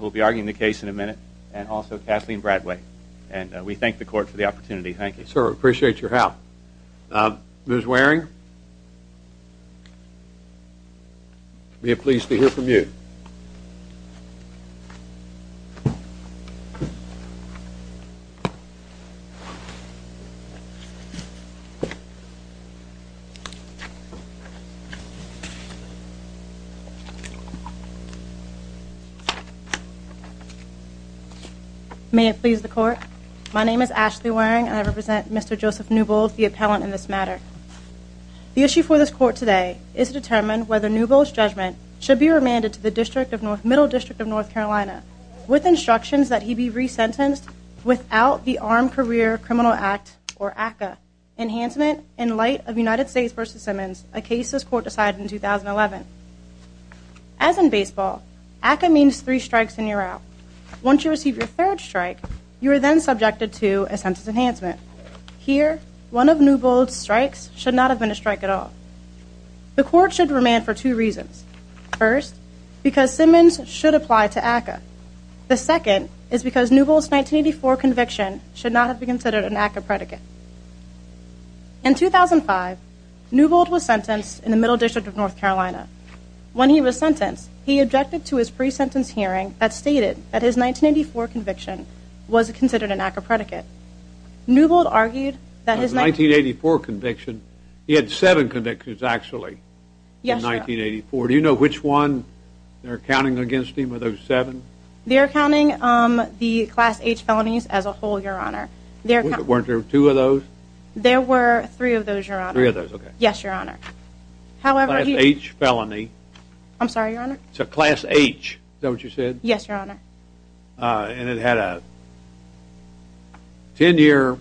will be arguing the case in a minute and also Kathleen Bradway and we thank the court for the opportunity. Thank you. Sir, we appreciate your help. Ms. Waring, we are pleased to hear from you. May it please the court. My name is Ashley Waring and I represent Mr. Joseph Newbold, the appellant in this matter. The issue for this court today is to determine whether Newbold's judgment should be remanded to the Middle District of North Carolina with instructions that he be re-sentenced without the Armed Career Criminal Act, or ACCA, enhancement in light of United States v. Simmons, a case this court decided in 2011. As in baseball, ACCA means three strikes and you're out. Once you receive your third strike, you are then subjected to a sentence enhancement. Here, one of Newbold's strikes should not have been a strike at all. The court should remand for two reasons. First, because Simmons should apply to ACCA. The second is because Newbold's 1984 conviction should not have been considered an ACCA predicate. In 2005, Newbold was sentenced in the Middle District of North Carolina. When he was sentenced, he objected to his pre-sentence hearing that stated that his 1984 conviction was considered an ACCA predicate. Newbold argued that his 1984 conviction, he had seven convictions actually, in 1984. Do you know which one they're counting against him of those seven? They're counting the Class H felonies as a whole, Your Honor. Weren't there two of those? There were three of those, Your Honor. Three of those, okay. Yes, Your Honor. However, he... Class H felony. I'm sorry, Your Honor. So Class H, is that what you said? Yes, Your Honor. And it had a ten-year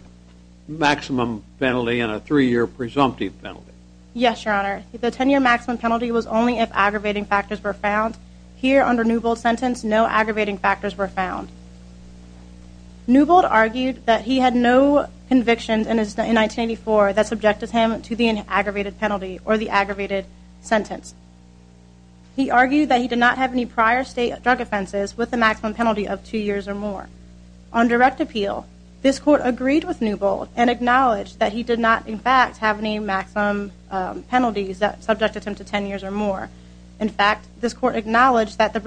maximum penalty and a three-year presumptive penalty. Yes, Your Honor. The ten-year maximum penalty was only if aggravating factors were found. Here, under Newbold's sentence, no aggravating factors were found. Newbold argued that he had no convictions in his... in 1984 that subjected him to the aggravated penalty or the aggravated sentence. He argued that he did not have any prior state drug offenses with the maximum penalty of two years or more. On direct appeal, this court agreed with Newbold and acknowledged that he did not, in fact, have any maximum penalties that subjected him to ten years or more. In fact, this court acknowledged that the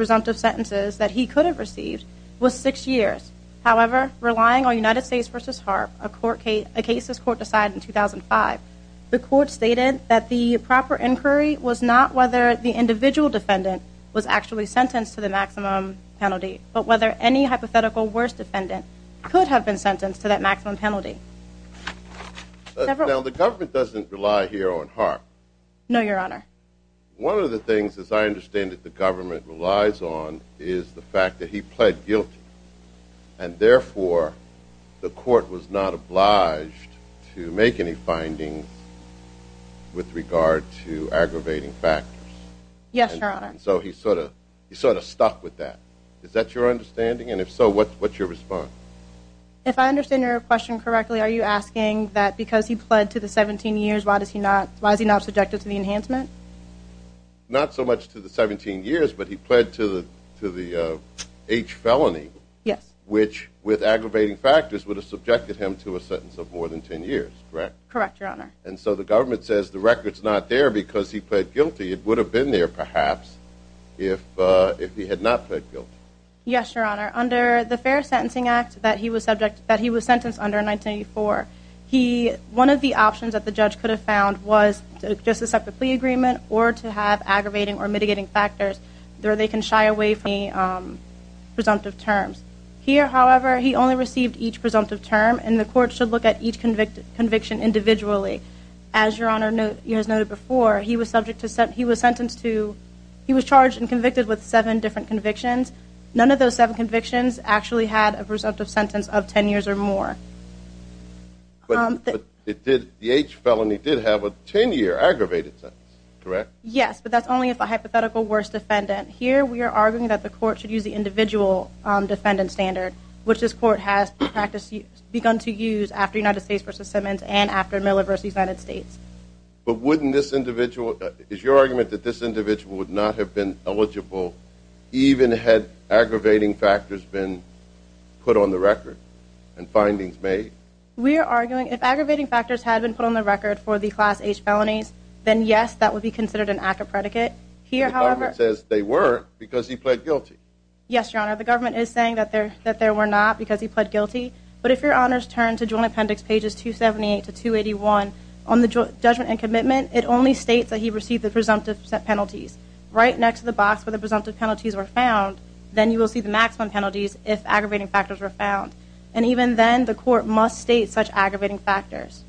was six years. However, relying on United States v. Harp, a court case... a case this court decided in 2005, the court stated that the proper inquiry was not whether the individual defendant was actually sentenced to the maximum penalty, but whether any hypothetical worst defendant could have been sentenced to that maximum penalty. Now, the government doesn't rely here on Harp. No, Your Honor. One of the things, as I understand it, the government relies on is the fact that he pled guilty, and therefore the court was not obliged to make any findings with regard to aggravating factors. Yes, Your Honor. So he sort of... he sort of stuck with that. Is that your understanding? And if so, what's... what's your response? If I understand your question correctly, are you asking that because he pled to the 17 years, why does he not... why is he not subjected to the H felony? Yes. Which, with aggravating factors, would have subjected him to a sentence of more than ten years, correct? Correct, Your Honor. And so the government says the record's not there because he pled guilty. It would have been there, perhaps, if he had not pled guilty. Yes, Your Honor. Under the Fair Sentencing Act that he was subject... that he was sentenced under in 1984, he... one of the options that the judge could have found was just a separate plea agreement or to have aggravating or mitigating factors, there they can shy away from the presumptive terms. Here, however, he only received each presumptive term, and the court should look at each convicted conviction individually. As Your Honor noted... you noted before, he was subject to... he was sentenced to... he was charged and convicted with seven different convictions. None of those seven convictions actually had a presumptive sentence of ten years or more. But it did... ten-year aggravated sentence, correct? Yes, but that's only if a hypothetical worst defendant. Here, we are arguing that the court should use the individual defendant standard, which this court has practiced... begun to use after United States v. Simmons and after Miller v. United States. But wouldn't this individual... is your argument that this individual would not have been eligible even had aggravating factors been put on the record and findings made? We are arguing if then yes, that would be considered an act of predicate. Here, however... The government says they were because he pled guilty. Yes, Your Honor, the government is saying that there... that there were not because he pled guilty. But if Your Honor's turn to Joint Appendix pages 278 to 281 on the judgment and commitment, it only states that he received the presumptive penalties. Right next to the box where the presumptive penalties were found, then you will see the maximum penalties if aggravating factors were found. And even then, the court must state such aggravating factors.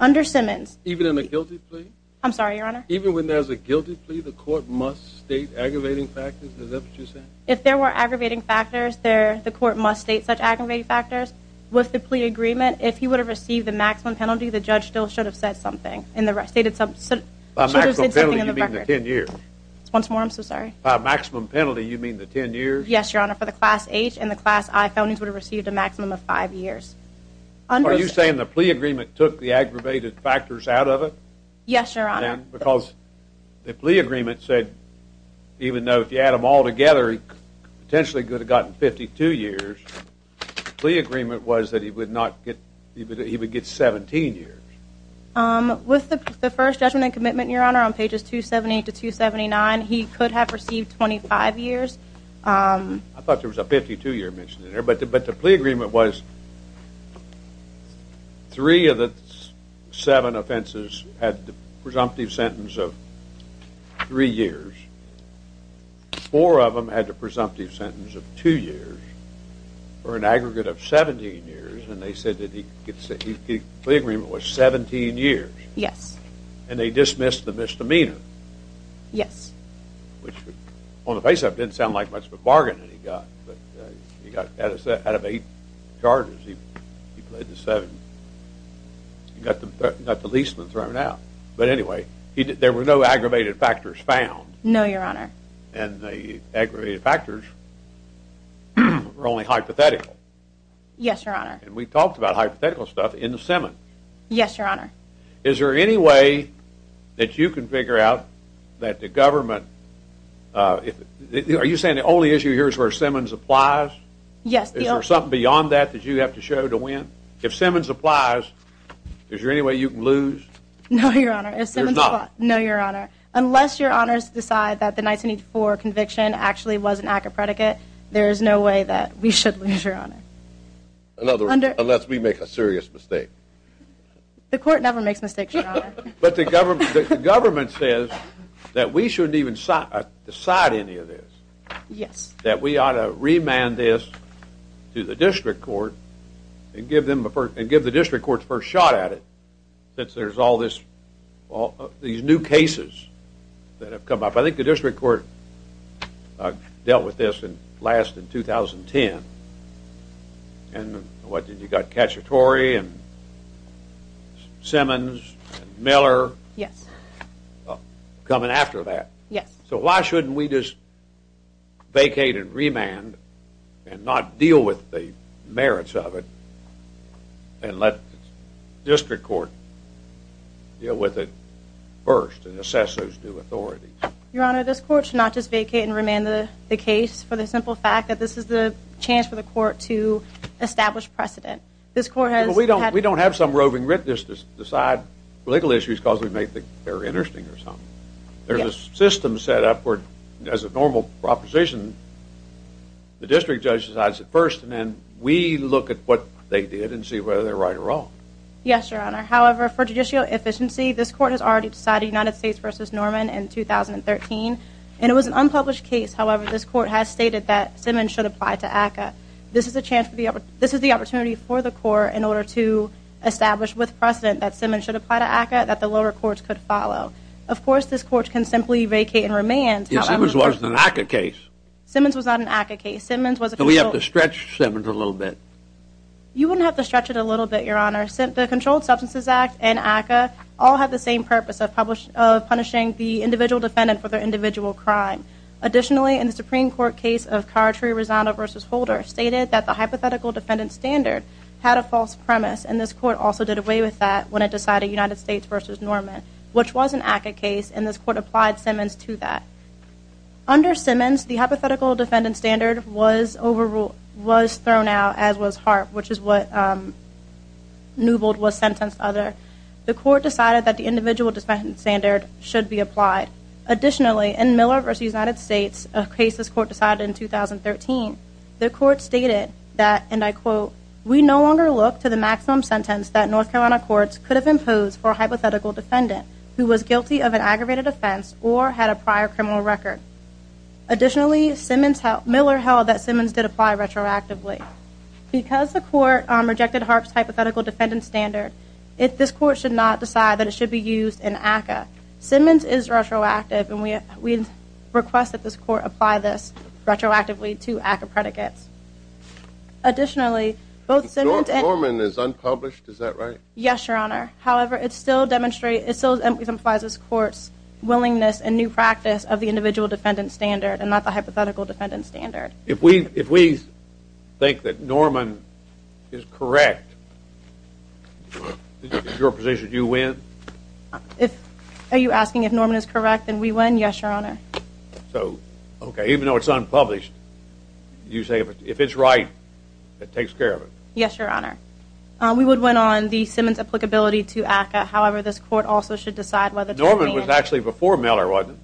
Under Simmons... Even in a guilty plea? I'm sorry, Your Honor? Even when there's a guilty plea, the court must state aggravating factors? Is that what you're saying? If there were aggravating factors, there... the court must state such aggravating factors. With the plea agreement, if he would have received the maximum penalty, the judge still should have said something. In the... stated some... should have said something in the record. By maximum penalty, you mean the 10 years? Once more, I'm so sorry. By maximum penalty, you mean the 10 years? Yes, Your Honor, for the Class H and the Class I findings would have received a maximum of Yes, Your Honor. Because the plea agreement said even though if you add them all together, he potentially could have gotten 52 years. The plea agreement was that he would not get... he would get 17 years. With the first judgment and commitment, Your Honor, on pages 278 to 279, he could have received 25 years. I thought there was a 52-year mention in there, but the plea agreement was three of the seven offenses had the presumptive sentence of three years. Four of them had the presumptive sentence of two years, or an aggregate of 17 years, and they said that he could... the plea agreement was 17 years. Yes. And they dismissed the misdemeanor. Yes. Which on the face of it didn't sound like much of he played the seven. He got the leaseman thrown out. But anyway, there were no aggravated factors found. No, Your Honor. And the aggravated factors were only hypothetical. Yes, Your Honor. And we talked about hypothetical stuff in the Simmons. Yes, Your Honor. Is there any way that you can figure out that the government... are you saying the only issue here is where Simmons applies? Yes. Is there something beyond that that you have to show to win? If Simmons applies, is there any way you can lose? No, Your Honor. No, Your Honor. Unless Your Honors decide that the 1984 conviction actually was an act of predicate, there is no way that we should lose, Your Honor. Unless we make a serious mistake. The court never makes mistakes, Your Honor. But the government says that we shouldn't even decide any of this. Yes. That we ought to remand this to the district court and give them the first... and give the district court's first shot at it, since there's all this... all these new cases that have come up. I think the district court dealt with this and last in 2010. And what did you got? Cacciatore and Simmons and Miller. Yes. Coming after that. Yes. So why shouldn't we just vacate and remand and not deal with the merits of it and let district court deal with it first and assess those new authorities? Your Honor, this court should not just vacate and remand the case for the simple fact that this is the chance for the court to establish precedent. This court has... We don't have some roving witness to decide legal issues because we make them very interesting or something. There's a system set up where, as a normal proposition, the district judge decides it first and then we look at what they did and see whether they're right or wrong. Yes, Your Honor. However, for judicial efficiency, this court has already decided United States versus Norman in 2013. And it was an unpublished case. However, this court has stated that Simmons should apply to ACCA. This is a chance for the... this is the opportunity for the court in order to establish with precedent that Simmons should apply to ACCA that the lower courts could follow. Of course, this court can simply vacate and remand. Simmons wasn't an ACCA case. Simmons was not an ACCA case. Simmons was... We have to stretch Simmons a little bit. You wouldn't have to stretch it a little bit, Your Honor. The Controlled Substances Act and ACCA all have the same purpose of punishing the individual defendant for their individual crime. Additionally, in the Supreme Court case of Cartree-Rosano versus Holder stated that the hypothetical defendant standard had a false premise and this court also did away with that when it decided United States versus Norman, which was an ACCA case and this court applied Simmons to that. Under Simmons, the hypothetical defendant standard was overruled... was thrown out as was Harp, which is what Newbold was sentenced under. The court decided that the individual defendant standard should be applied. Additionally, in Miller versus United States, a case this court decided in 2013, the court stated that, and I quote, we no longer look to the maximum sentence that North Carolina courts could have imposed for a hypothetical defendant who was guilty of an aggravated offense or had a prior criminal record. Additionally, Miller held that Simmons did apply retroactively. Because the court rejected Harp's hypothetical defendant standard, this court should not we request that this court apply this retroactively to ACCA predicates. Additionally, both Simmons and... Norman is unpublished, is that right? Yes, your honor. However, it still demonstrates, it still implies this court's willingness and new practice of the individual defendant standard and not the hypothetical defendant standard. If we, if we think that Norman is correct, your position, do you win? If, are you asking if Norman is correct, then we win? Yes, your honor. So, okay, even though it's unpublished, you say if it's right, it takes care of it. Yes, your honor. We would win on the Simmons applicability to ACCA. However, this court also should decide whether... Norman was actually before Miller, wasn't it?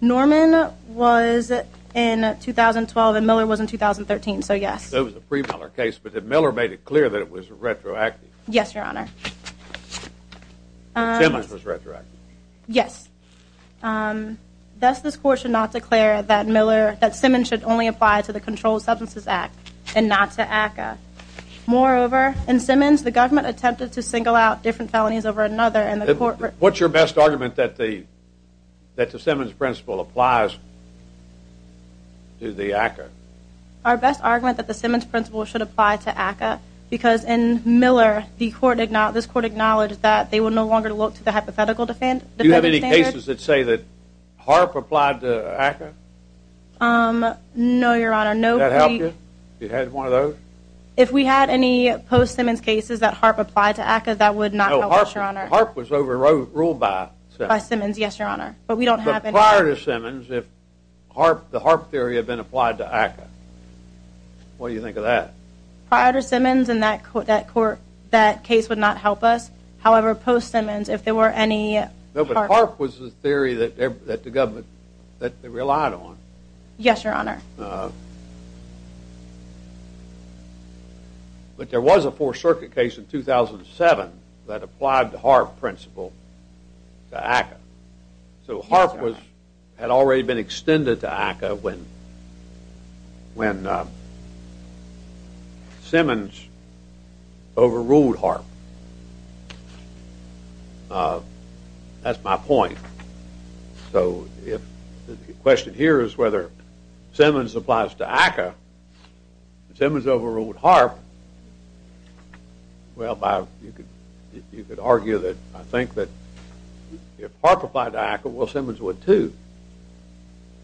Norman was in 2012 and Miller was in 2013, so yes. It was a pre-Miller case, but Simmons was retroactive. Yes, thus this court should not declare that Miller, that Simmons should only apply to the Controlled Substances Act and not to ACCA. Moreover, in Simmons, the government attempted to single out different felonies over another and the court... What's your best argument that the, that the Simmons principle applies to the ACCA? Our best argument that the Simmons principle should apply to ACCA, because in Miller, the court acknowledged, this is no longer to look to the hypothetical defendant. Do you have any cases that say that Harp applied to ACCA? Um, no, your honor, no. That helped you? You had one of those? If we had any post-Simmons cases that Harp applied to ACCA, that would not help us, your honor. Harp was overruled by Simmons. By Simmons, yes, your honor, but we don't have any. But prior to Simmons, if Harp, the Harp theory had been applied to ACCA, what do you think of that? Prior to Simmons, in that court, that case would not help us. However, post-Simmons, if there were any... No, but Harp was the theory that, that the government, that they relied on. Yes, your honor. But there was a Fourth Circuit case in 2007 that applied the Harp principle to ACCA. So Harp was, had already been extended to ACCA when, when Simmons overruled Harp. That's my point. So if the question here is whether Simmons applies to ACCA, Simmons overruled Harp, well, you could argue that, I think that if Harp applied to ACCA, well, Simmons would too.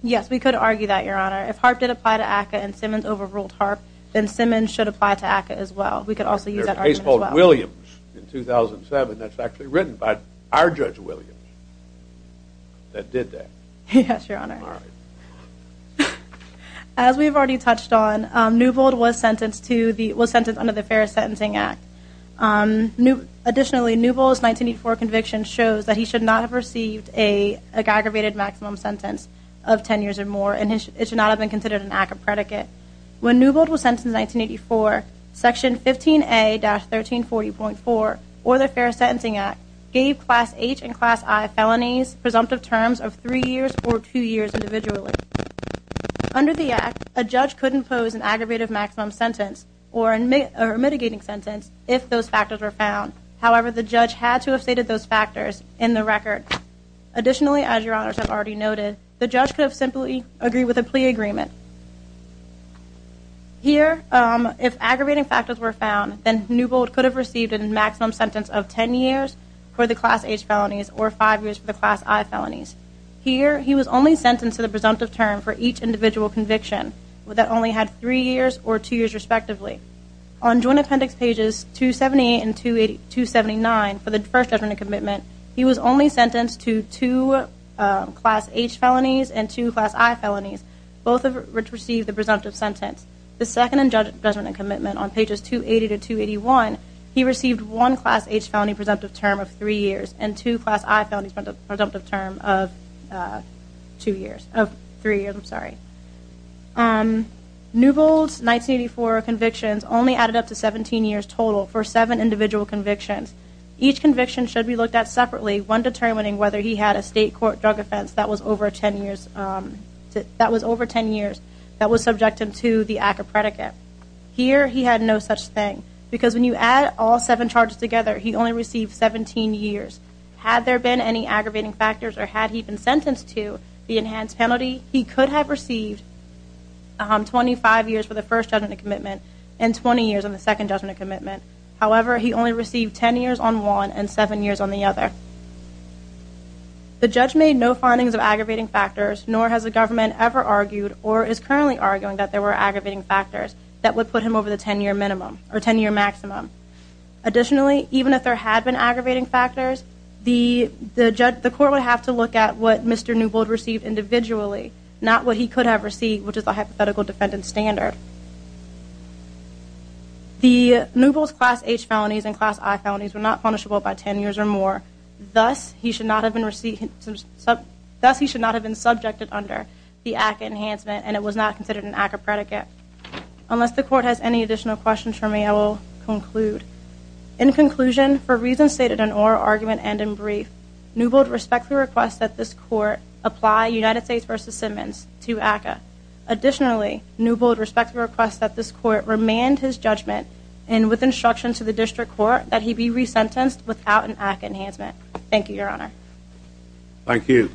Yes, we could argue that, your honor. If Harp did apply to ACCA and Simmons overruled Harp, then Simmons should apply to ACCA as well. We could also use that argument as well. There's a case called Williams in 2007 that's actually written by our Judge Williams that did that. Yes, your honor. As we've already touched on, Newbold was sentenced to the, was sentenced under the Fair Sentencing Act. Additionally, Newbold's 1984 conviction shows that he should not have received a aggravated maximum sentence of 10 years or more, and it should not have been considered an act of predicate. When Newbold was sentenced in 1984, Section 15A-1340.4, or the Fair Sentencing Act, gave Class H and Class I felonies presumptive terms of three years or two years individually. Under the Act, a judge couldn't pose an aggravated maximum sentence or a mitigating sentence if those factors were found. However, the judge had to have stated those factors in the record. Additionally, as your honors have already seen, Newbold could not have received a maximum sentence of 10 years for the Class H felonies or five years for the Class I felonies. Here, he was only sentenced to the presumptive term for each individual conviction that only had three years or two years respectively. On joint appendix pages 278 and 279 for the first judgment and commitment, he was only sentenced to two Class H felonies and two Class I felonies, both of which were presumptive terms. Both of which received the presumptive sentence. The second judgment and commitment, on pages 280 to 281, he received one Class H felony presumptive term of three years and two Class I felonies presumptive term of three years. Newbold's 1984 convictions only added up to 17 years total for seven individual convictions. Each conviction should be looked at separately, one determining whether he had a state court drug offense that was over 10 years. That was subjected to the act of predicate. Here, he had no such thing. Because when you add all seven charges together, he only received 17 years. Had there been any aggravating factors or had he been sentenced to the enhanced penalty, he could have received 25 years for the first judgment and commitment and 20 years on the second judgment and commitment. However, he only received 10 years on one and seven years on the other. The judge made no findings of aggravating factors, nor has the government ever argued or is currently arguing that there were aggravating factors that would put him over the 10 year minimum or 10 year maximum. Additionally, even if there had been aggravating factors, the court would have to look at what Mr. Newbold received individually, not what he could have received, which is the hypothetical defendant standard. The Newbold's Class H felonies and Class I felonies were not punishable by 10 years or more. Thus, he should not have been subjected under the ACCA enhancement and it was not considered an ACCA predicate. Unless the court has any additional questions for me, I will conclude. In conclusion, for reasons stated in oral argument and in brief, Newbold respectfully requests that this court apply United States v. Simmons to ACCA. Additionally, Newbold respectfully requests that this court remand his judgment and with instruction to the district court that he be resentenced without an ACCA enhancement. Thank you, Your Honor. Thank you.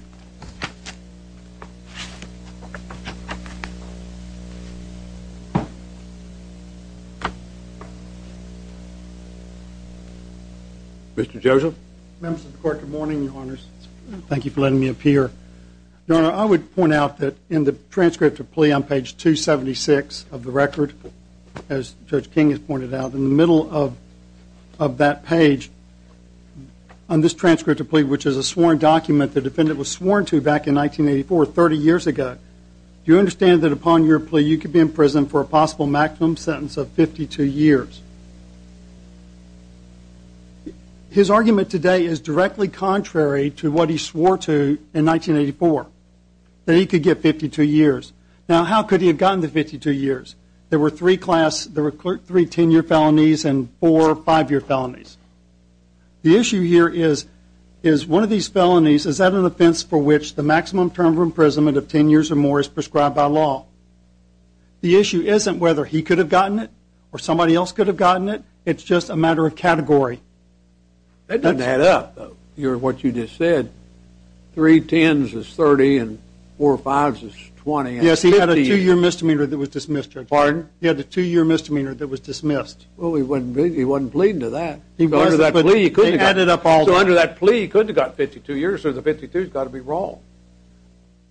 Mr. Joseph. Members of the court, good morning, Your Honors. Thank you for letting me appear. Your Honor, I would point out that in the transcript of plea on page 276 of the record, as Judge King has pointed out, in the middle of that page, on this transcript of plea, which is a sworn document the defendant was sworn to back in 1984, 30 years ago, do you understand that upon your plea you could be in prison for a possible maximum sentence of 52 years? His argument today is directly contrary to what he swore to in 1984, that he could get 52 years. Now, how could he have gotten the 52 years? There were three class, there were three 10-year felonies and four 5-year felonies. The issue here is, is one of these felonies, is that an offense for which the maximum term of imprisonment of 10 years or more is prescribed by law? The issue isn't whether he could have gotten it or somebody else could have gotten it. It's just a matter of category. That doesn't add up, though, what you just said. Three 10s is 30 and four 5s is 20. Yes, he had a two-year misdemeanor that was dismissed, Judge. Pardon? He had a two-year misdemeanor that was dismissed. Well, he wasn't pleading to that. Under that plea, he couldn't have gotten 52 years, so the 52 has got to be wrong.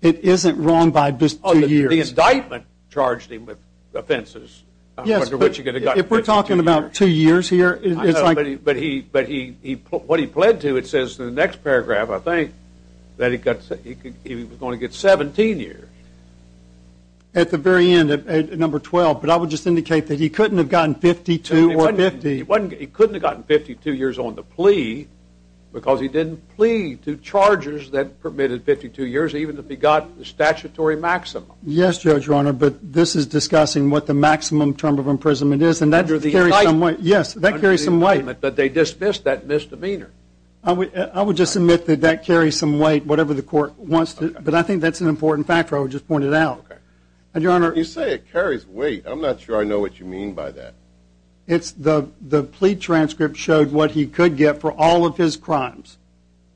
It isn't wrong by two years. The indictment charged him with offenses. Yes, but if we're talking about two years here, it's like… I know, but what he pled to, it says in the next paragraph, I think, that he was going to get 17 years. At the very end, at number 12, but I would just indicate that he couldn't have gotten 52 or 50. He couldn't have gotten 52 years on the plea because he didn't plead to charges that permitted 52 years, even if he got the statutory maximum. Yes, Judge, Your Honor, but this is discussing what the maximum term of imprisonment is, and that carries some weight. Yes, that carries some weight. But they dismissed that misdemeanor. I would just admit that that carries some weight, whatever the court wants to. But I think that's an important factor I would just point it out. Okay. Your Honor… You say it carries weight. I'm not sure I know what you mean by that. It's the plea transcript showed what he could get for all of his crimes.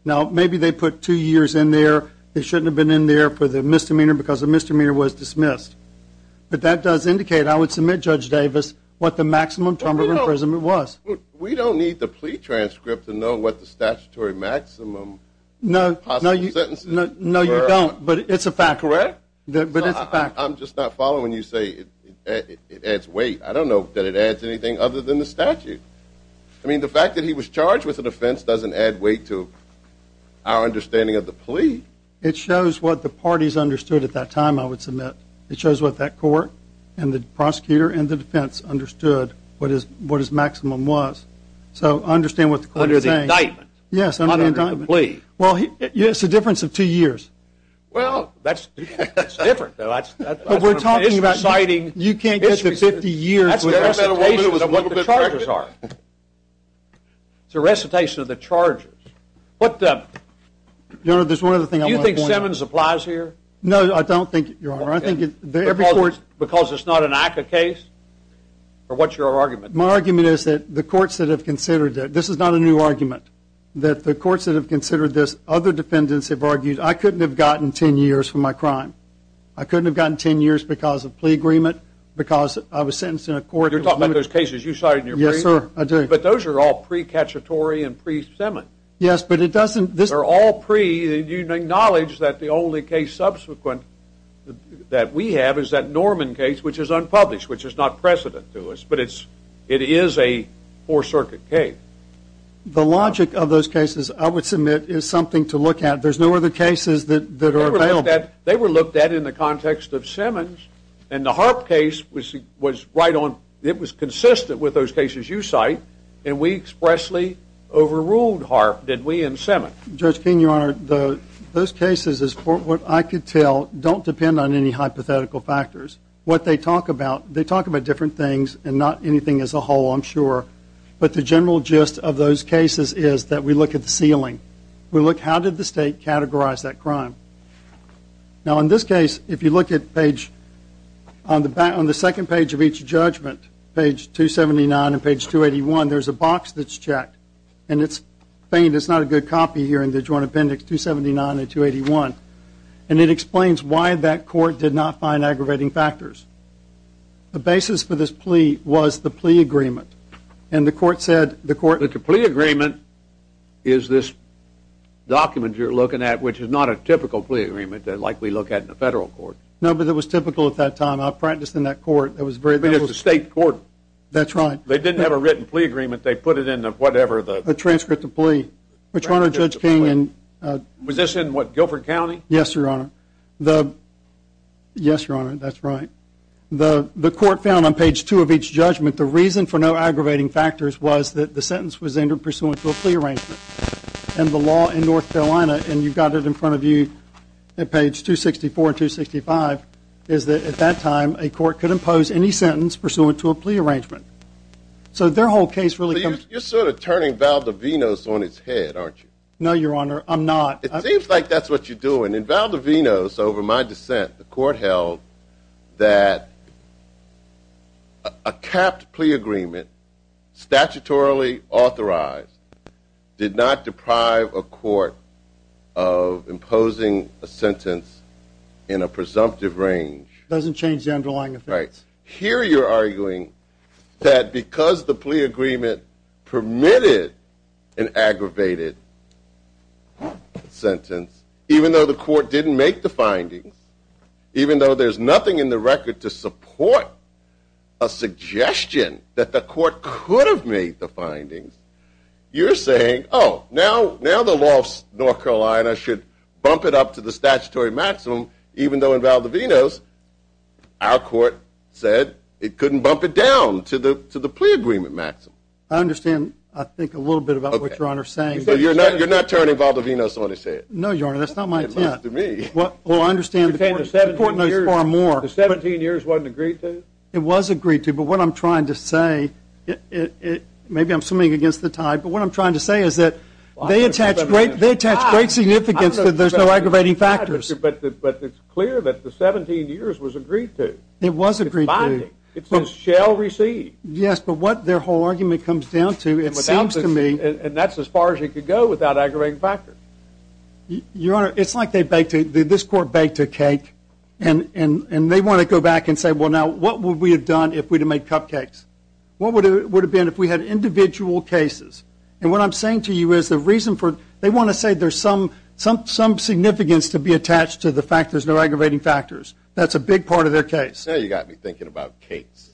Now, maybe they put two years in there. They shouldn't have been in there for the misdemeanor because the misdemeanor was dismissed. But that does indicate, I would submit, Judge Davis, what the maximum term of imprisonment was. We don't need the plea transcript to know what the statutory maximum possible sentence is. No, you don't, but it's a fact. Correct? But it's a fact. I'm just not following when you say it adds weight. I don't know that it adds anything other than the statute. I mean, the fact that he was charged with an offense doesn't add weight to our understanding of the plea. It shows what the parties understood at that time, I would submit. It shows what that court and the prosecutor and the defense understood what his maximum was. So, I understand what the court is saying. Under the indictment. Yes, under the indictment. Not under the plea. Well, it's a difference of two years. Well, that's different. But we're talking about… You can't get to 50 years with recitations of what the charges are. It's a recitation of the charges. What the… Your Honor, there's one other thing I want to point out. Do you think Simmons applies here? No, I don't think, Your Honor. Because it's not an ICA case? Or what's your argument? My argument is that the courts that have considered it, this is not a new argument, that the courts that have considered this, other defendants have argued, I couldn't have gotten 10 years for my crime. I couldn't have gotten 10 years because of plea agreement, because I was sentenced in a court… You're talking about those cases you cited in your plea agreement? Yes, sir, I do. But those are all pre-Cacciatore and pre-Simmons. Yes, but it doesn't… They're all pre… You acknowledge that the only case subsequent that we have is that Norman case, which is unpublished, which is not precedent to us, but it is a Fourth Circuit case. The logic of those cases, I would submit, is something to look at. There's no other cases that are available. They were looked at in the context of Simmons, and the Harp case was consistent with those cases you cite, and we expressly overruled Harp, did we, in Simmons? Judge Keene, Your Honor, those cases, as far as I could tell, don't depend on any hypothetical factors. What they talk about, they talk about different things and not anything as a whole, I'm sure. But the general gist of those cases is that we look at the ceiling. We look, how did the state categorize that crime? Now, in this case, if you look at page… On the second page of each judgment, page 279 and page 281, there's a box that's checked, and it's faint, it's not a good copy here in the Joint Appendix 279 and 281, and it explains why that court did not find aggravating factors. The basis for this plea was the plea agreement, and the court said… The plea agreement is this document you're looking at, which is not a typical plea agreement like we look at in the federal court. No, but it was typical at that time. I practiced in that court. It was a state court. That's right. They didn't have a written plea agreement. They put it in whatever the… A transcript of plea. Which, Your Honor, Judge Keene… Was this in, what, Guilford County? Yes, Your Honor. Yes, Your Honor, that's right. The court found on page two of each judgment the reason for no aggravating factors was that the sentence was entered pursuant to a plea arrangement, and the law in North Carolina, and you've got it in front of you at page 264 and 265, is that at that time a court could impose any sentence pursuant to a plea arrangement. So their whole case really comes… You're sort of turning Valdovinos on its head, aren't you? No, Your Honor, I'm not. It seems like that's what you're doing. In Valdovinos, over my dissent, the court held that a capped plea agreement statutorily authorized did not deprive a court of imposing a sentence in a presumptive range. It doesn't change the underlying offense. Here you're arguing that because the plea agreement permitted an aggravated sentence, even though the court didn't make the findings, even though there's nothing in the record to support a suggestion that the court could have made the findings, you're saying, oh, now the law of North Carolina should bump it up to the statutory maximum, even though in Valdovinos our court said it couldn't bump it down to the plea agreement maximum. I understand, I think, a little bit about what Your Honor is saying. You're not turning Valdovinos on its head. No, Your Honor, that's not my intent. Not to me. Well, I understand the court knows far more. The 17 years wasn't agreed to? It was agreed to, but what I'm trying to say, maybe I'm swimming against the tide, but what I'm trying to say is that they attach great significance that there's no aggravating factors. But it's clear that the 17 years was agreed to. It was agreed to. It's binding. It says shall receive. Yes, but what their whole argument comes down to, it seems to me. And that's as far as it could go without aggravating factors. Your Honor, it's like this court baked a cake, and they want to go back and say, well, now, what would we have done if we'd have made cupcakes? What would it have been if we had individual cases? And what I'm saying to you is the reason for it, they want to say there's some significance to be attached to the fact there's no aggravating factors. That's a big part of their case. Now you've got me thinking about cakes.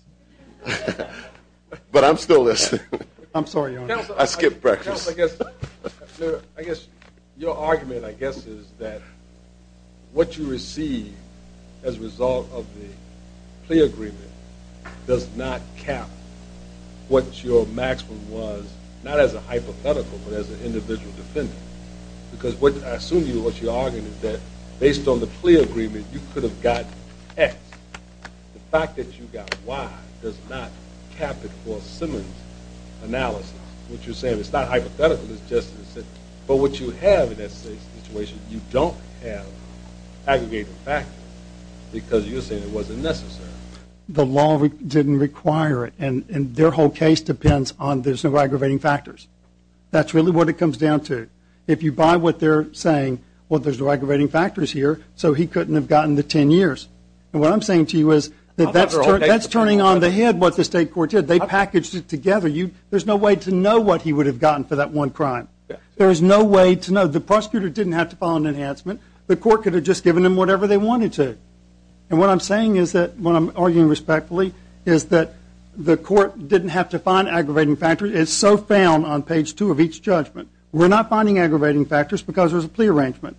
But I'm still listening. I'm sorry, Your Honor. I skipped breakfast. I guess your argument, I guess, is that what you receive as a result of the plea agreement does not cap what your maximum was, not as a hypothetical, but as an individual defendant. Because I assume what you're arguing is that based on the plea agreement, you could have got X. The fact that you got Y does not cap it for Simmons' analysis. What you're saying is it's not hypothetical. It's just that what you have in that situation, you don't have aggregated factors because you're saying it wasn't necessary. The law didn't require it, and their whole case depends on there's no aggravating factors. That's really what it comes down to. If you buy what they're saying, well, there's no aggravating factors here, so he couldn't have gotten the 10 years. And what I'm saying to you is that's turning on the head what the state court did. They packaged it together. There's no way to know what he would have gotten for that one crime. There is no way to know. The prosecutor didn't have to file an enhancement. The court could have just given him whatever they wanted to. And what I'm saying is that, what I'm arguing respectfully, is that the court didn't have to find aggravating factors. It's so found on page 2 of each judgment. We're not finding aggravating factors because there's a plea arrangement.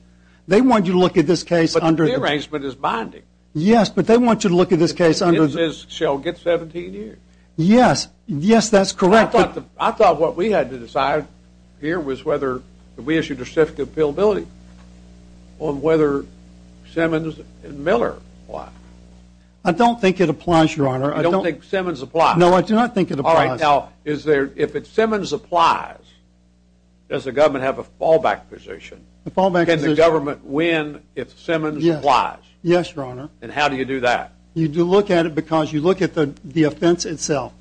They want you to look at this case under the- But the plea arrangement is binding. Yes, but they want you to look at this case under- It shall get 17 years. Yes. Yes, that's correct. I thought what we had to decide here was whether we issued a certificate of appealability on whether Simmons and Miller apply. I don't think it applies, Your Honor. You don't think Simmons applies? No, I do not think it applies. All right. Now, if Simmons applies, does the government have a fallback position? The fallback position- Can the government win if Simmons applies? Yes, Your Honor. And how do you do that? You do look at it because you look at the offense itself.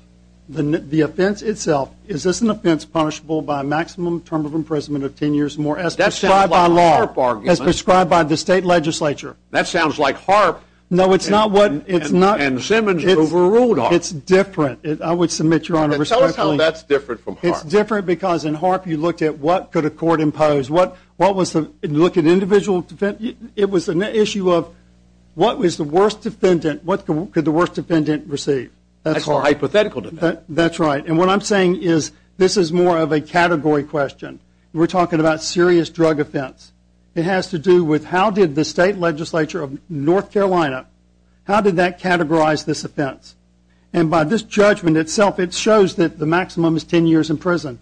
The offense itself. Is this an offense punishable by maximum term of imprisonment of 10 years or more as prescribed by law? That sounds like a HAARP argument. As prescribed by the state legislature. That sounds like HAARP. No, it's not what- And Simmons overruled HAARP. It's different. I would submit, Your Honor, respectfully- Tell us how that's different from HAARP. It's different because in HAARP you looked at what could a court impose, what was the- It was an issue of what was the worst defendant- What could the worst defendant receive? That's a hypothetical defense. That's right. And what I'm saying is this is more of a category question. We're talking about serious drug offense. It has to do with how did the state legislature of North Carolina, how did that categorize this offense? And by this judgment itself, it shows that the maximum is 10 years in prison.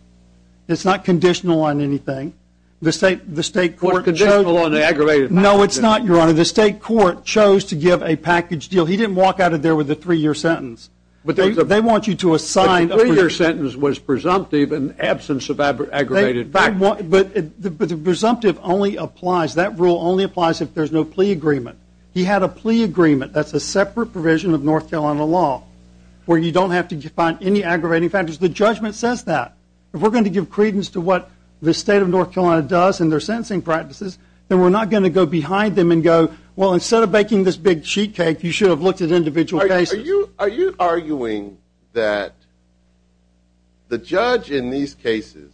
It's not conditional on anything. The state court chose- It's not conditional on aggravated- No, it's not, Your Honor. The state court chose to give a package deal. He didn't walk out of there with a three-year sentence. They want you to assign- The three-year sentence was presumptive in absence of aggravated factors. But the presumptive only applies, that rule only applies if there's no plea agreement. He had a plea agreement. That's a separate provision of North Carolina law where you don't have to define any aggravating factors. The judgment says that. If we're going to give credence to what the state of North Carolina does and their sentencing practices, then we're not going to go behind them and go, well, instead of baking this big sheet cake, you should have looked at individual cases. Are you arguing that the judge in these cases,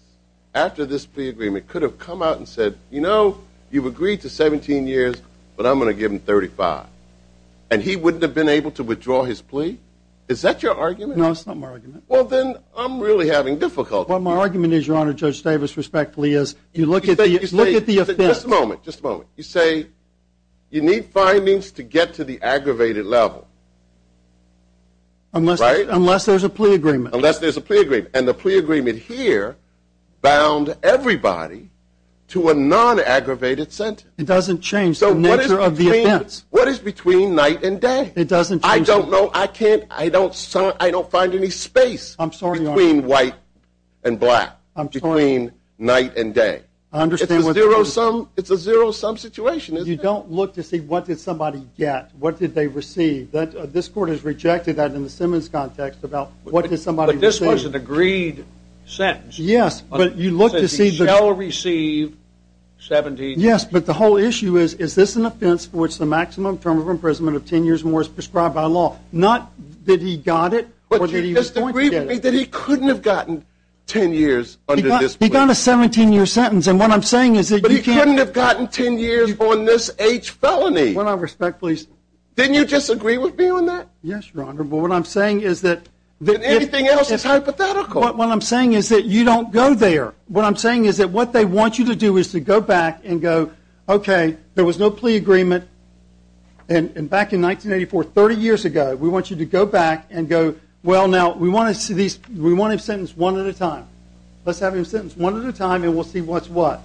after this plea agreement, could have come out and said, you know, you've agreed to 17 years, but I'm going to give them 35, and he wouldn't have been able to withdraw his plea? Is that your argument? No, it's not my argument. Well, then I'm really having difficulty. But my argument is, Your Honor, Judge Davis, respectfully, is you look at the offense- Just a moment, just a moment. You say you need findings to get to the aggravated level, right? Unless there's a plea agreement. Unless there's a plea agreement. And the plea agreement here bound everybody to a non-aggravated sentence. It doesn't change the nature of the offense. What is between night and day? It doesn't change- I don't know, I can't, I don't find any space- I'm sorry, Your Honor. Between white and black. I'm sorry. Between night and day. I understand what you're saying. It's a zero-sum situation, isn't it? You don't look to see what did somebody get, what did they receive. This Court has rejected that in the Simmons context about what did somebody receive. But this was an agreed sentence. Yes, but you look to see- He shall receive 17 years. Yes, but the whole issue is, is this an offense for which the maximum term of imprisonment of 10 years or more is prescribed by law? Not that he got it. But do you disagree with me that he couldn't have gotten 10 years under this plea? He got a 17-year sentence. And what I'm saying is that you can't- But he couldn't have gotten 10 years on this H felony. With all respect, please. Didn't you disagree with me on that? Yes, Your Honor. But what I'm saying is that- And anything else is hypothetical. What I'm saying is that you don't go there. What I'm saying is that what they want you to do is to go back and go, okay, there was no plea agreement. And back in 1984, 30 years ago, we want you to go back and go, well, now, we want him sentenced one at a time. Let's have him sentenced one at a time and we'll see what's what.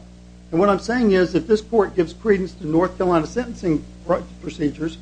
And what I'm saying is that this Court gives credence to North Carolina sentencing procedures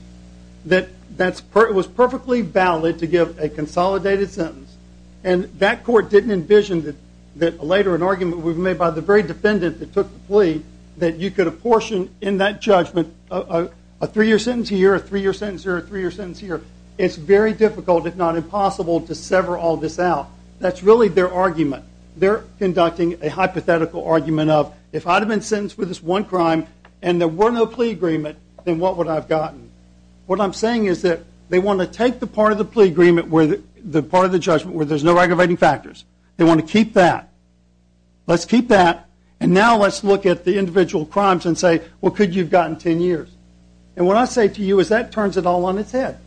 that it was perfectly valid to give a consolidated sentence. And that Court didn't envision that later an argument would be made by the very defendant that took the plea that you could apportion in that judgment a three-year sentence here, a three-year sentence here, a three-year sentence here. It's very difficult, if not impossible, to sever all this out. That's really their argument. They're conducting a hypothetical argument of, if I had been sentenced for this one crime and there were no plea agreement, then what would I have gotten? What I'm saying is that they want to take the part of the plea agreement where the part of the judgment where there's no aggravating factors. They want to keep that. Let's keep that. And now let's look at the individual crimes and say, well, could you have gotten 10 years? And what I say to you is that turns it all on its head.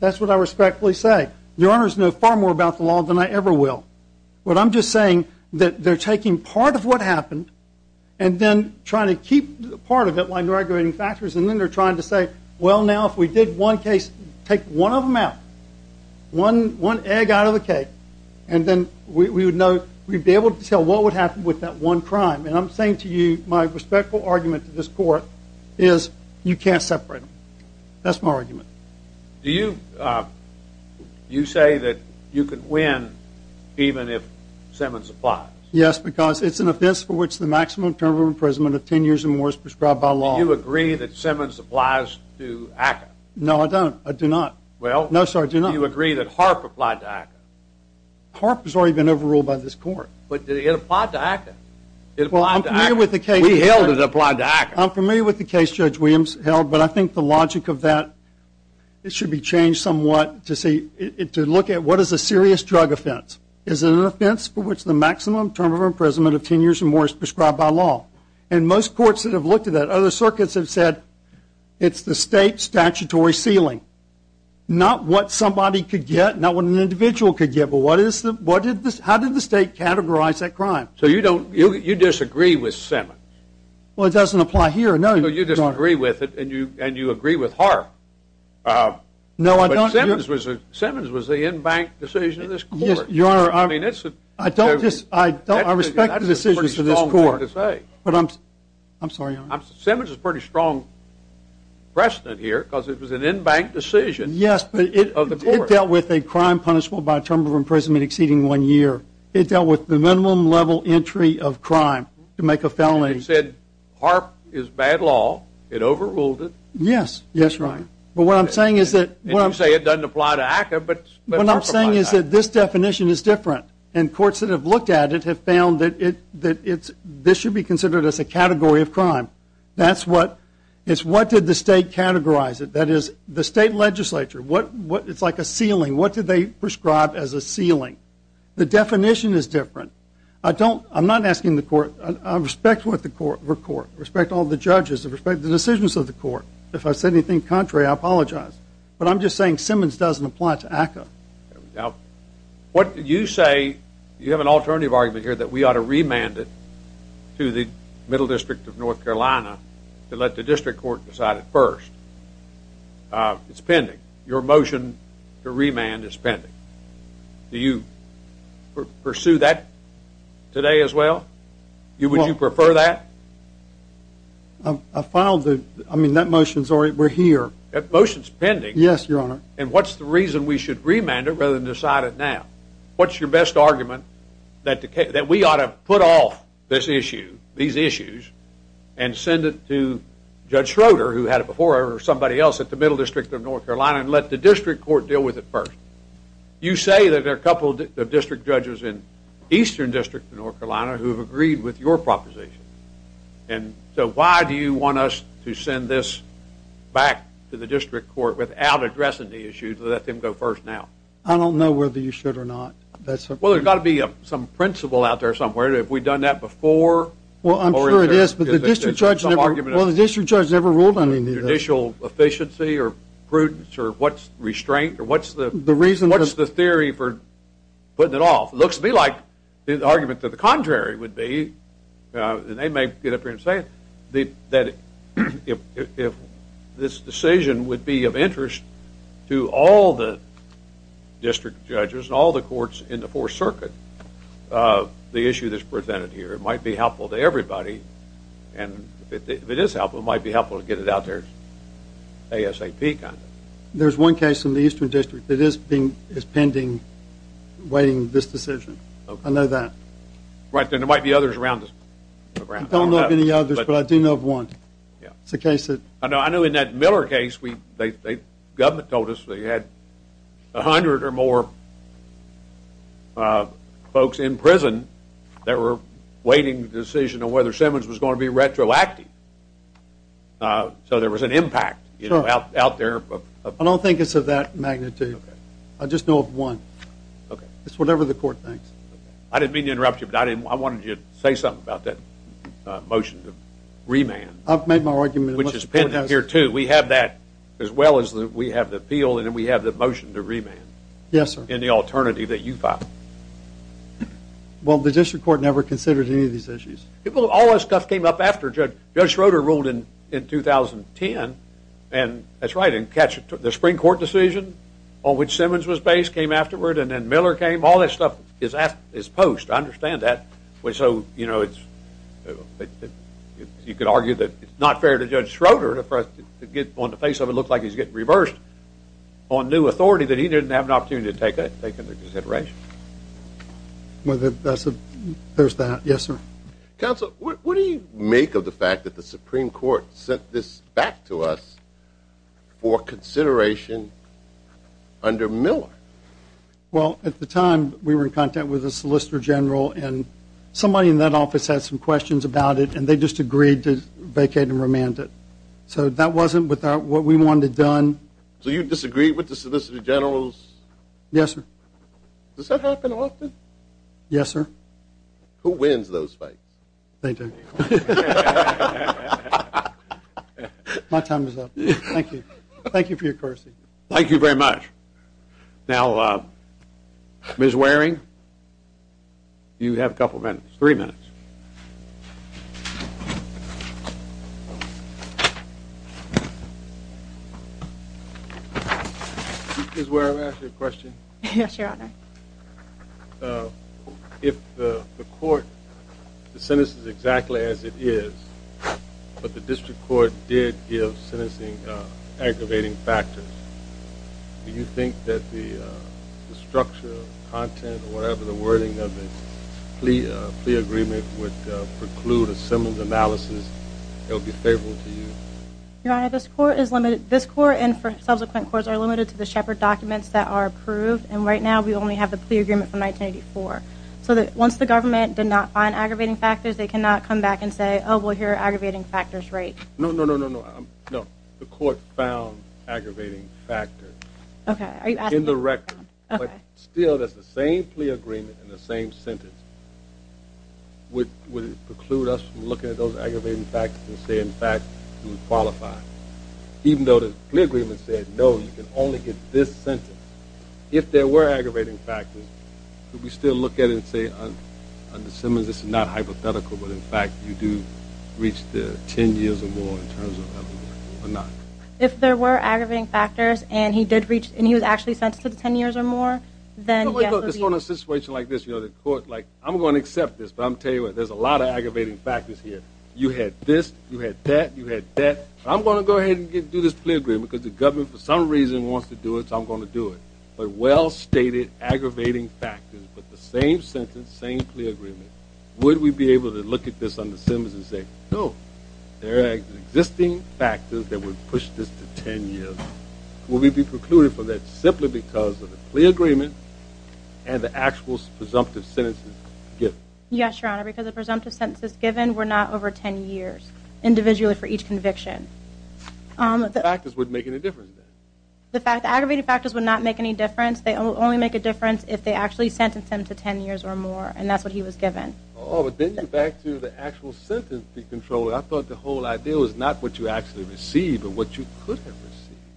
That's what I respectfully say. Your Honors know far more about the law than I ever will. But I'm just saying that they're taking part of what happened and then trying to keep part of it like the aggravating factors, and then they're trying to say, well, now, if we did one case, take one of them out. One egg out of the cake. And then we would be able to tell what would happen with that one crime. And I'm saying to you my respectful argument to this Court is you can't separate them. That's my argument. Do you say that you could win even if Simmons applies? Yes, because it's an offense for which the maximum term of imprisonment of 10 years or more is prescribed by law. Do you agree that Simmons applies to ACCA? No, I don't. I do not. Well, do you agree that Harp applied to ACCA? Harp has already been overruled by this Court. But did it apply to ACCA? We held it applied to ACCA. I'm familiar with the case Judge Williams held, but I think the logic of that should be changed somewhat to look at what is a serious drug offense. Is it an offense for which the maximum term of imprisonment of 10 years or more is prescribed by law? And most courts that have looked at that, other circuits have said it's the state statutory ceiling. Not what somebody could get, not what an individual could get, but how did the state categorize that crime? So you disagree with Simmons? Well, it doesn't apply here, no. So you disagree with it and you agree with Harp? No, I don't. But Simmons was the in-bank decision of this Court. Your Honor, I respect the decisions of this Court. I'm sorry, Your Honor. Simmons is a pretty strong precedent here because it was an in-bank decision of the Court. Yes, but it dealt with a crime punishable by a term of imprisonment exceeding one year. It dealt with the minimum level entry of crime to make a felony. And you said Harp is bad law. It overruled it. Yes, that's right. And you say it doesn't apply to ACCA, but Harp applies to ACCA. What I'm saying is that this definition is different, and courts that have looked at it have found that this should be considered as a category of crime. It's what did the state categorize it. That is, the state legislature. It's like a ceiling. What did they prescribe as a ceiling? The definition is different. I'm not asking the Court. I respect the Court, respect all the judges, respect the decisions of the Court. If I said anything contrary, I apologize. But I'm just saying Simmons doesn't apply to ACCA. Now, what did you say? You have an alternative argument here that we ought to remand it to the Middle District of North Carolina to let the district court decide it first. It's pending. Your motion to remand is pending. Do you pursue that today as well? Would you prefer that? I mean, that motion's already here. That motion's pending? Yes, Your Honor. And what's the reason we should remand it rather than decide it now? What's your best argument that we ought to put off this issue, these issues, and send it to Judge Schroeder, who had it before, or somebody else at the Middle District of North Carolina, and let the district court deal with it first? You say that there are a couple of district judges in Eastern District of North Carolina who have agreed with your proposition. And so why do you want us to send this back to the district court without addressing the issue to let them go first now? I don't know whether you should or not. Well, there's got to be some principle out there somewhere. Have we done that before? Well, I'm sure it is, but the district judge never ruled on anything. Judicial efficiency or prudence or what's restraint or what's the theory for putting it off? It looks to me like the argument to the contrary would be, and they may get up here and say it, that if this decision would be of interest to all the district judges and all the courts in the Fourth Circuit, the issue that's presented here, it might be helpful to everybody. And if it is helpful, it might be helpful to get it out there ASAP kind of. There's one case in the Eastern District that is pending waiting this decision. I know that. Right, and there might be others around. I don't know of any others, but I do know of one. I know in that Miller case, the government told us they had 100 or more folks in prison that were waiting the decision on whether Simmons was going to be retroactive. So there was an impact out there. I don't think it's of that magnitude. Okay. I just know of one. Okay. It's whatever the court thinks. I didn't mean to interrupt you, but I wanted you to say something about that motion to remand. I've made my argument. Which is pending here, too. We have that as well as we have the appeal and then we have the motion to remand. Yes, sir. In the alternative that you filed. Well, the district court never considered any of these issues. All this stuff came up after Judge Schroeder ruled in 2010. And that's right. The spring court decision on which Simmons was based came afterward and then Miller came. All this stuff is post. I understand that. So, you know, you could argue that it's not fair to Judge Schroeder to get on the face of it and look like he's getting reversed on new authority that he didn't have an opportunity to take into consideration. There's that. Yes, sir. Counsel, what do you make of the fact that the Supreme Court sent this back to us for consideration under Miller? Well, at the time we were in contact with the Solicitor General and somebody in that office had some questions about it and they just agreed to vacate and remand it. So that wasn't what we wanted done. So you disagreed with the Solicitor General's? Yes, sir. Does that happen often? Yes, sir. Who wins those fights? They do. My time is up. Thank you. Thank you for your courtesy. Thank you very much. Now, Ms. Waring, you have a couple minutes, three minutes. Ms. Waring, may I ask you a question? Yes, Your Honor. If the court sentences exactly as it is, but the district court did give sentencing aggravating factors, do you think that the structure of the content or whatever the wording of the plea agreement would preclude a similar analysis? It would be favorable to you? Your Honor, this court and subsequent courts are limited to the Shepard documents that are approved and right now we only have the plea agreement from 1984. So that once the government did not find aggravating factors, they cannot come back and say, oh, well, here are aggravating factors, right? No, no, no, no, no. No, the court found aggravating factors. Okay. In the record. Okay. But still, that's the same plea agreement and the same sentence. Would it preclude us from looking at those aggravating factors and saying, in fact, you qualify? Even though the plea agreement said, no, you can only get this sentence. If there were aggravating factors, could we still look at it and say, under Simmons, this is not hypothetical, but, in fact, you do reach the 10 years or more in terms of that or not? If there were aggravating factors and he did reach and he was actually sentenced to the 10 years or more, then, yes. But, like, on a situation like this, you know, the court, like, I'm going to accept this, but I'm telling you, there's a lot of aggravating factors here. You had this, you had that, you had that. I'm going to go ahead and do this plea agreement because the government, for some reason, wants to do it, so I'm going to do it. But well-stated aggravating factors, but the same sentence, same plea agreement, would we be able to look at this under Simmons and say, no, there are existing factors that would push this to 10 years. Would we be precluded from that simply because of the plea agreement and the actual presumptive sentences given? Yes, Your Honor, because the presumptive sentences given were not over 10 years, individually for each conviction. The factors wouldn't make any difference, then? The aggravating factors would not make any difference. They would only make a difference if they actually sentenced him to 10 years or more, and that's what he was given. Oh, but then you go back to the actual sentencing control. I thought the whole idea was not what you actually received but what you could have received.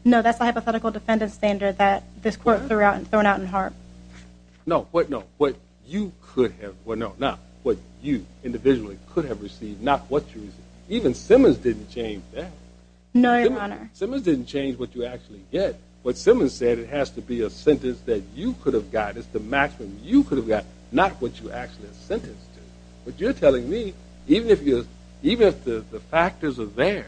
No, that's the hypothetical defendant standard that this court threw out in Hart. No, what you individually could have received, not what you received. Even Simmons didn't change that. No, Your Honor. Simmons didn't change what you actually get. What Simmons said, it has to be a sentence that you could have got as the maximum you could have got, not what you actually are sentenced to. But you're telling me even if the factors are there,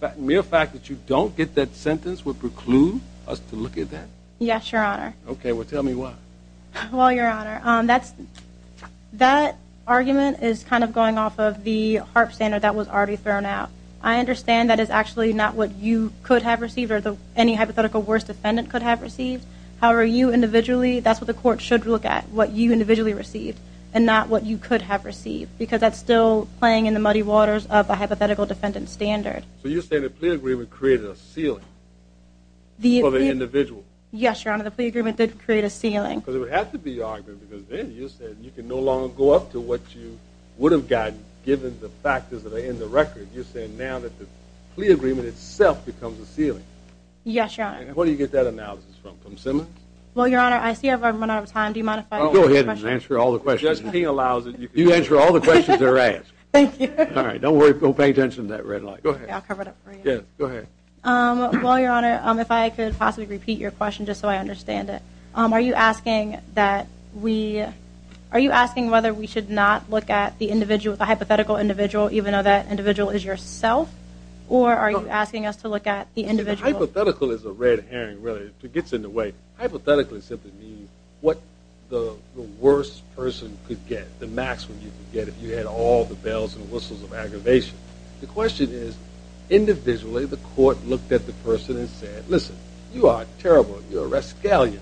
the mere fact that you don't get that sentence would preclude us to look at that? Yes, Your Honor. Okay, well tell me why. Well, Your Honor, that argument is kind of going off of the Hart standard that was already thrown out. I understand that is actually not what you could have received or any hypothetical worst defendant could have received. However, that's what the court should look at, what you individually received and not what you could have received because that's still playing in the muddy waters of a hypothetical defendant standard. So you're saying the plea agreement created a ceiling for the individual? Yes, Your Honor, the plea agreement did create a ceiling. But it would have to be your argument because then you said you can no longer go up to what you would have gotten given the factors that are in the record. You're saying now that the plea agreement itself becomes a ceiling. Yes, Your Honor. And where do you get that analysis from, from Simmons? Well, Your Honor, I see I've run out of time. Do you mind if I go ahead and answer all the questions? Just he allows it. You answer all the questions that are asked. Thank you. All right, don't worry. Go pay attention to that red light. Okay, I'll cover it up for you. Yes, go ahead. Well, Your Honor, if I could possibly repeat your question just so I understand it. Are you asking that we, are you asking whether we should not look at the individual, the hypothetical individual, even though that individual is yourself? Or are you asking us to look at the individual? The hypothetical is a red herring, really. It gets in the way. Hypothetically simply means what the worst person could get, the maximum you could get if you had all the bells and whistles of aggravation. The question is, individually, the court looked at the person and said, listen, you are terrible. You're a rascal.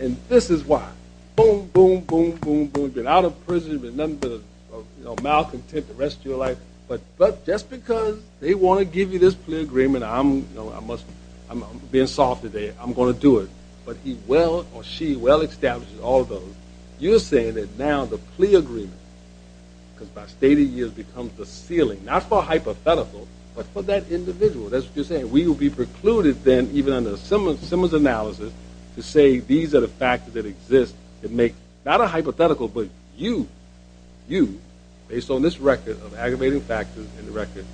And this is why. Boom, boom, boom, boom, boom. You've been out of prison. You've been nothing but a, you know, malcontent the rest of your life. But just because they want to give you this plea agreement, I'm, you know, I must, I'm being soft today. I'm going to do it. But he well or she well establishes all of those. You're saying that now the plea agreement, because by a state of the art it becomes a ceiling, not for hypothetical, but for that individual. That's what you're saying. We will be precluded then, even under Simmons' analysis, to say these are the factors that exist that make, not a hypothetical, but you, you, based on this record of aggravating factors in the record,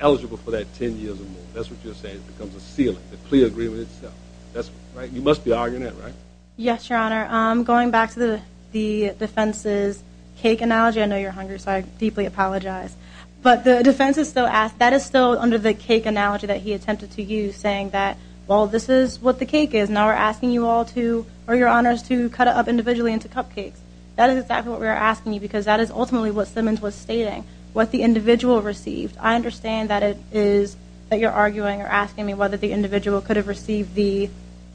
eligible for that 10 years or more. That's what you're saying. It becomes a ceiling, the plea agreement itself. That's right. You must be arguing that, right? Yes, Your Honor. Going back to the defense's cake analogy, I know you're hungry, so I deeply apologize. But the defense is still, that is still under the cake analogy that he attempted to use, saying that, well, this is what the cake is. Now we're asking you all to, or your honors, to cut it up individually into cupcakes. That is exactly what we are asking you, because that is ultimately what Simmons was stating, what the individual received. I understand that it is, that you're arguing or asking me whether the individual could have received the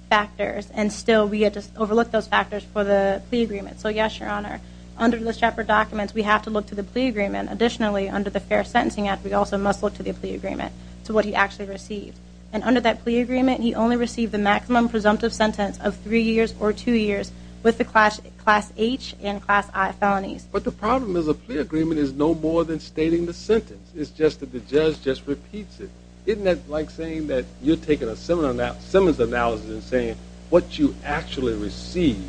factors, and still we just overlook those factors for the plea agreement. So, yes, Your Honor. Under the chapter documents, we have to look to the plea agreement. Additionally, under the fair sentencing act, we also must look to the plea agreement, to what he actually received. And under that plea agreement, he only received the maximum presumptive sentence of three years or two years with the class H and class I felonies. But the problem is a plea agreement is no more than stating the sentence. It's just that the judge just repeats it. Isn't that like saying that you're taking a Simmons analysis and saying what you actually received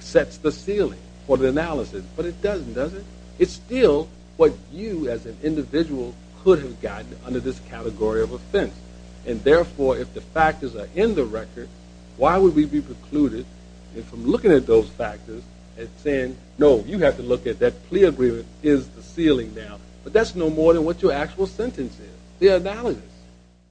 sets the ceiling for the analysis? But it doesn't, does it? It's still what you, as an individual, could have gotten under this category of offense. And, therefore, if the factors are in the record, why would we be precluded from looking at those factors and saying, no, you have to look at that plea agreement is the ceiling now. But that's no more than what your actual sentence is, the analysis.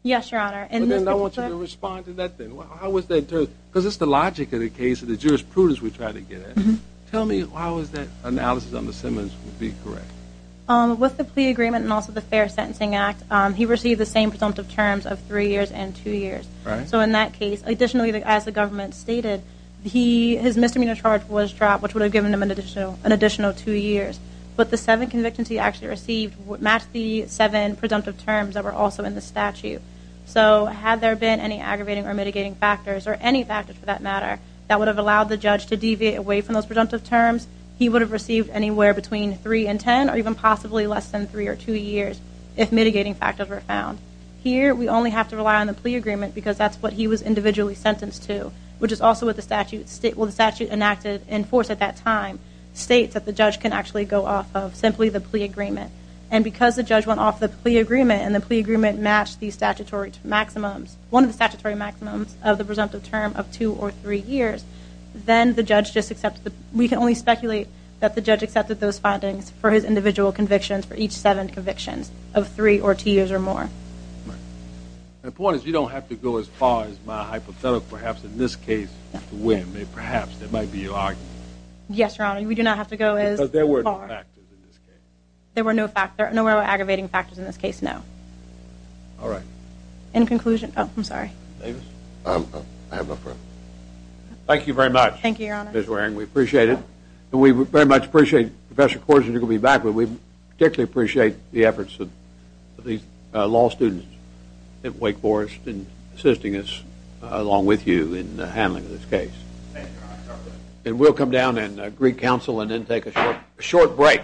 Yes, Your Honor. And then I want you to respond to that then. How was that? Because it's the logic of the case of the jurisprudence we try to get at. Tell me why was that analysis under Simmons would be correct? With the plea agreement and also the fair sentencing act, he received the same presumptive terms of three years and two years. So in that case, additionally, as the government stated, his misdemeanor charge was dropped, which would have given him an additional two years. But the seven convictions he actually received matched the seven presumptive terms that were also in the statute. So had there been any aggravating or mitigating factors, or any factors for that matter, that would have allowed the judge to deviate away from those presumptive terms, he would have received anywhere between three and ten or even possibly less than three or two years if mitigating factors were found. Here, we only have to rely on the plea agreement because that's what he was individually sentenced to, which is also what the statute enacted in force at that time states that the judge can actually go off of simply the plea agreement. And because the judge went off the plea agreement and the plea agreement matched one of the statutory maximums of the presumptive term of two or three years, then we can only speculate that the judge accepted those findings for his individual convictions for each seven convictions of three or two years or more. The point is, you don't have to go as far as my hypothetical, perhaps in this case, to win. Perhaps there might be an argument. Yes, Your Honor, we do not have to go as far. Because there were no factors in this case. There were no aggravating factors in this case, no. All right. Any conclusion? Oh, I'm sorry. Davis? I have no further. Thank you very much, Ms. Waring. We appreciate it. And we very much appreciate Professor Korsinger to be back with us. We particularly appreciate the efforts of these law students at Wake Forest in assisting us along with you in handling this case. Thank you, Your Honor. And we'll come down and greet counsel and then take a short break.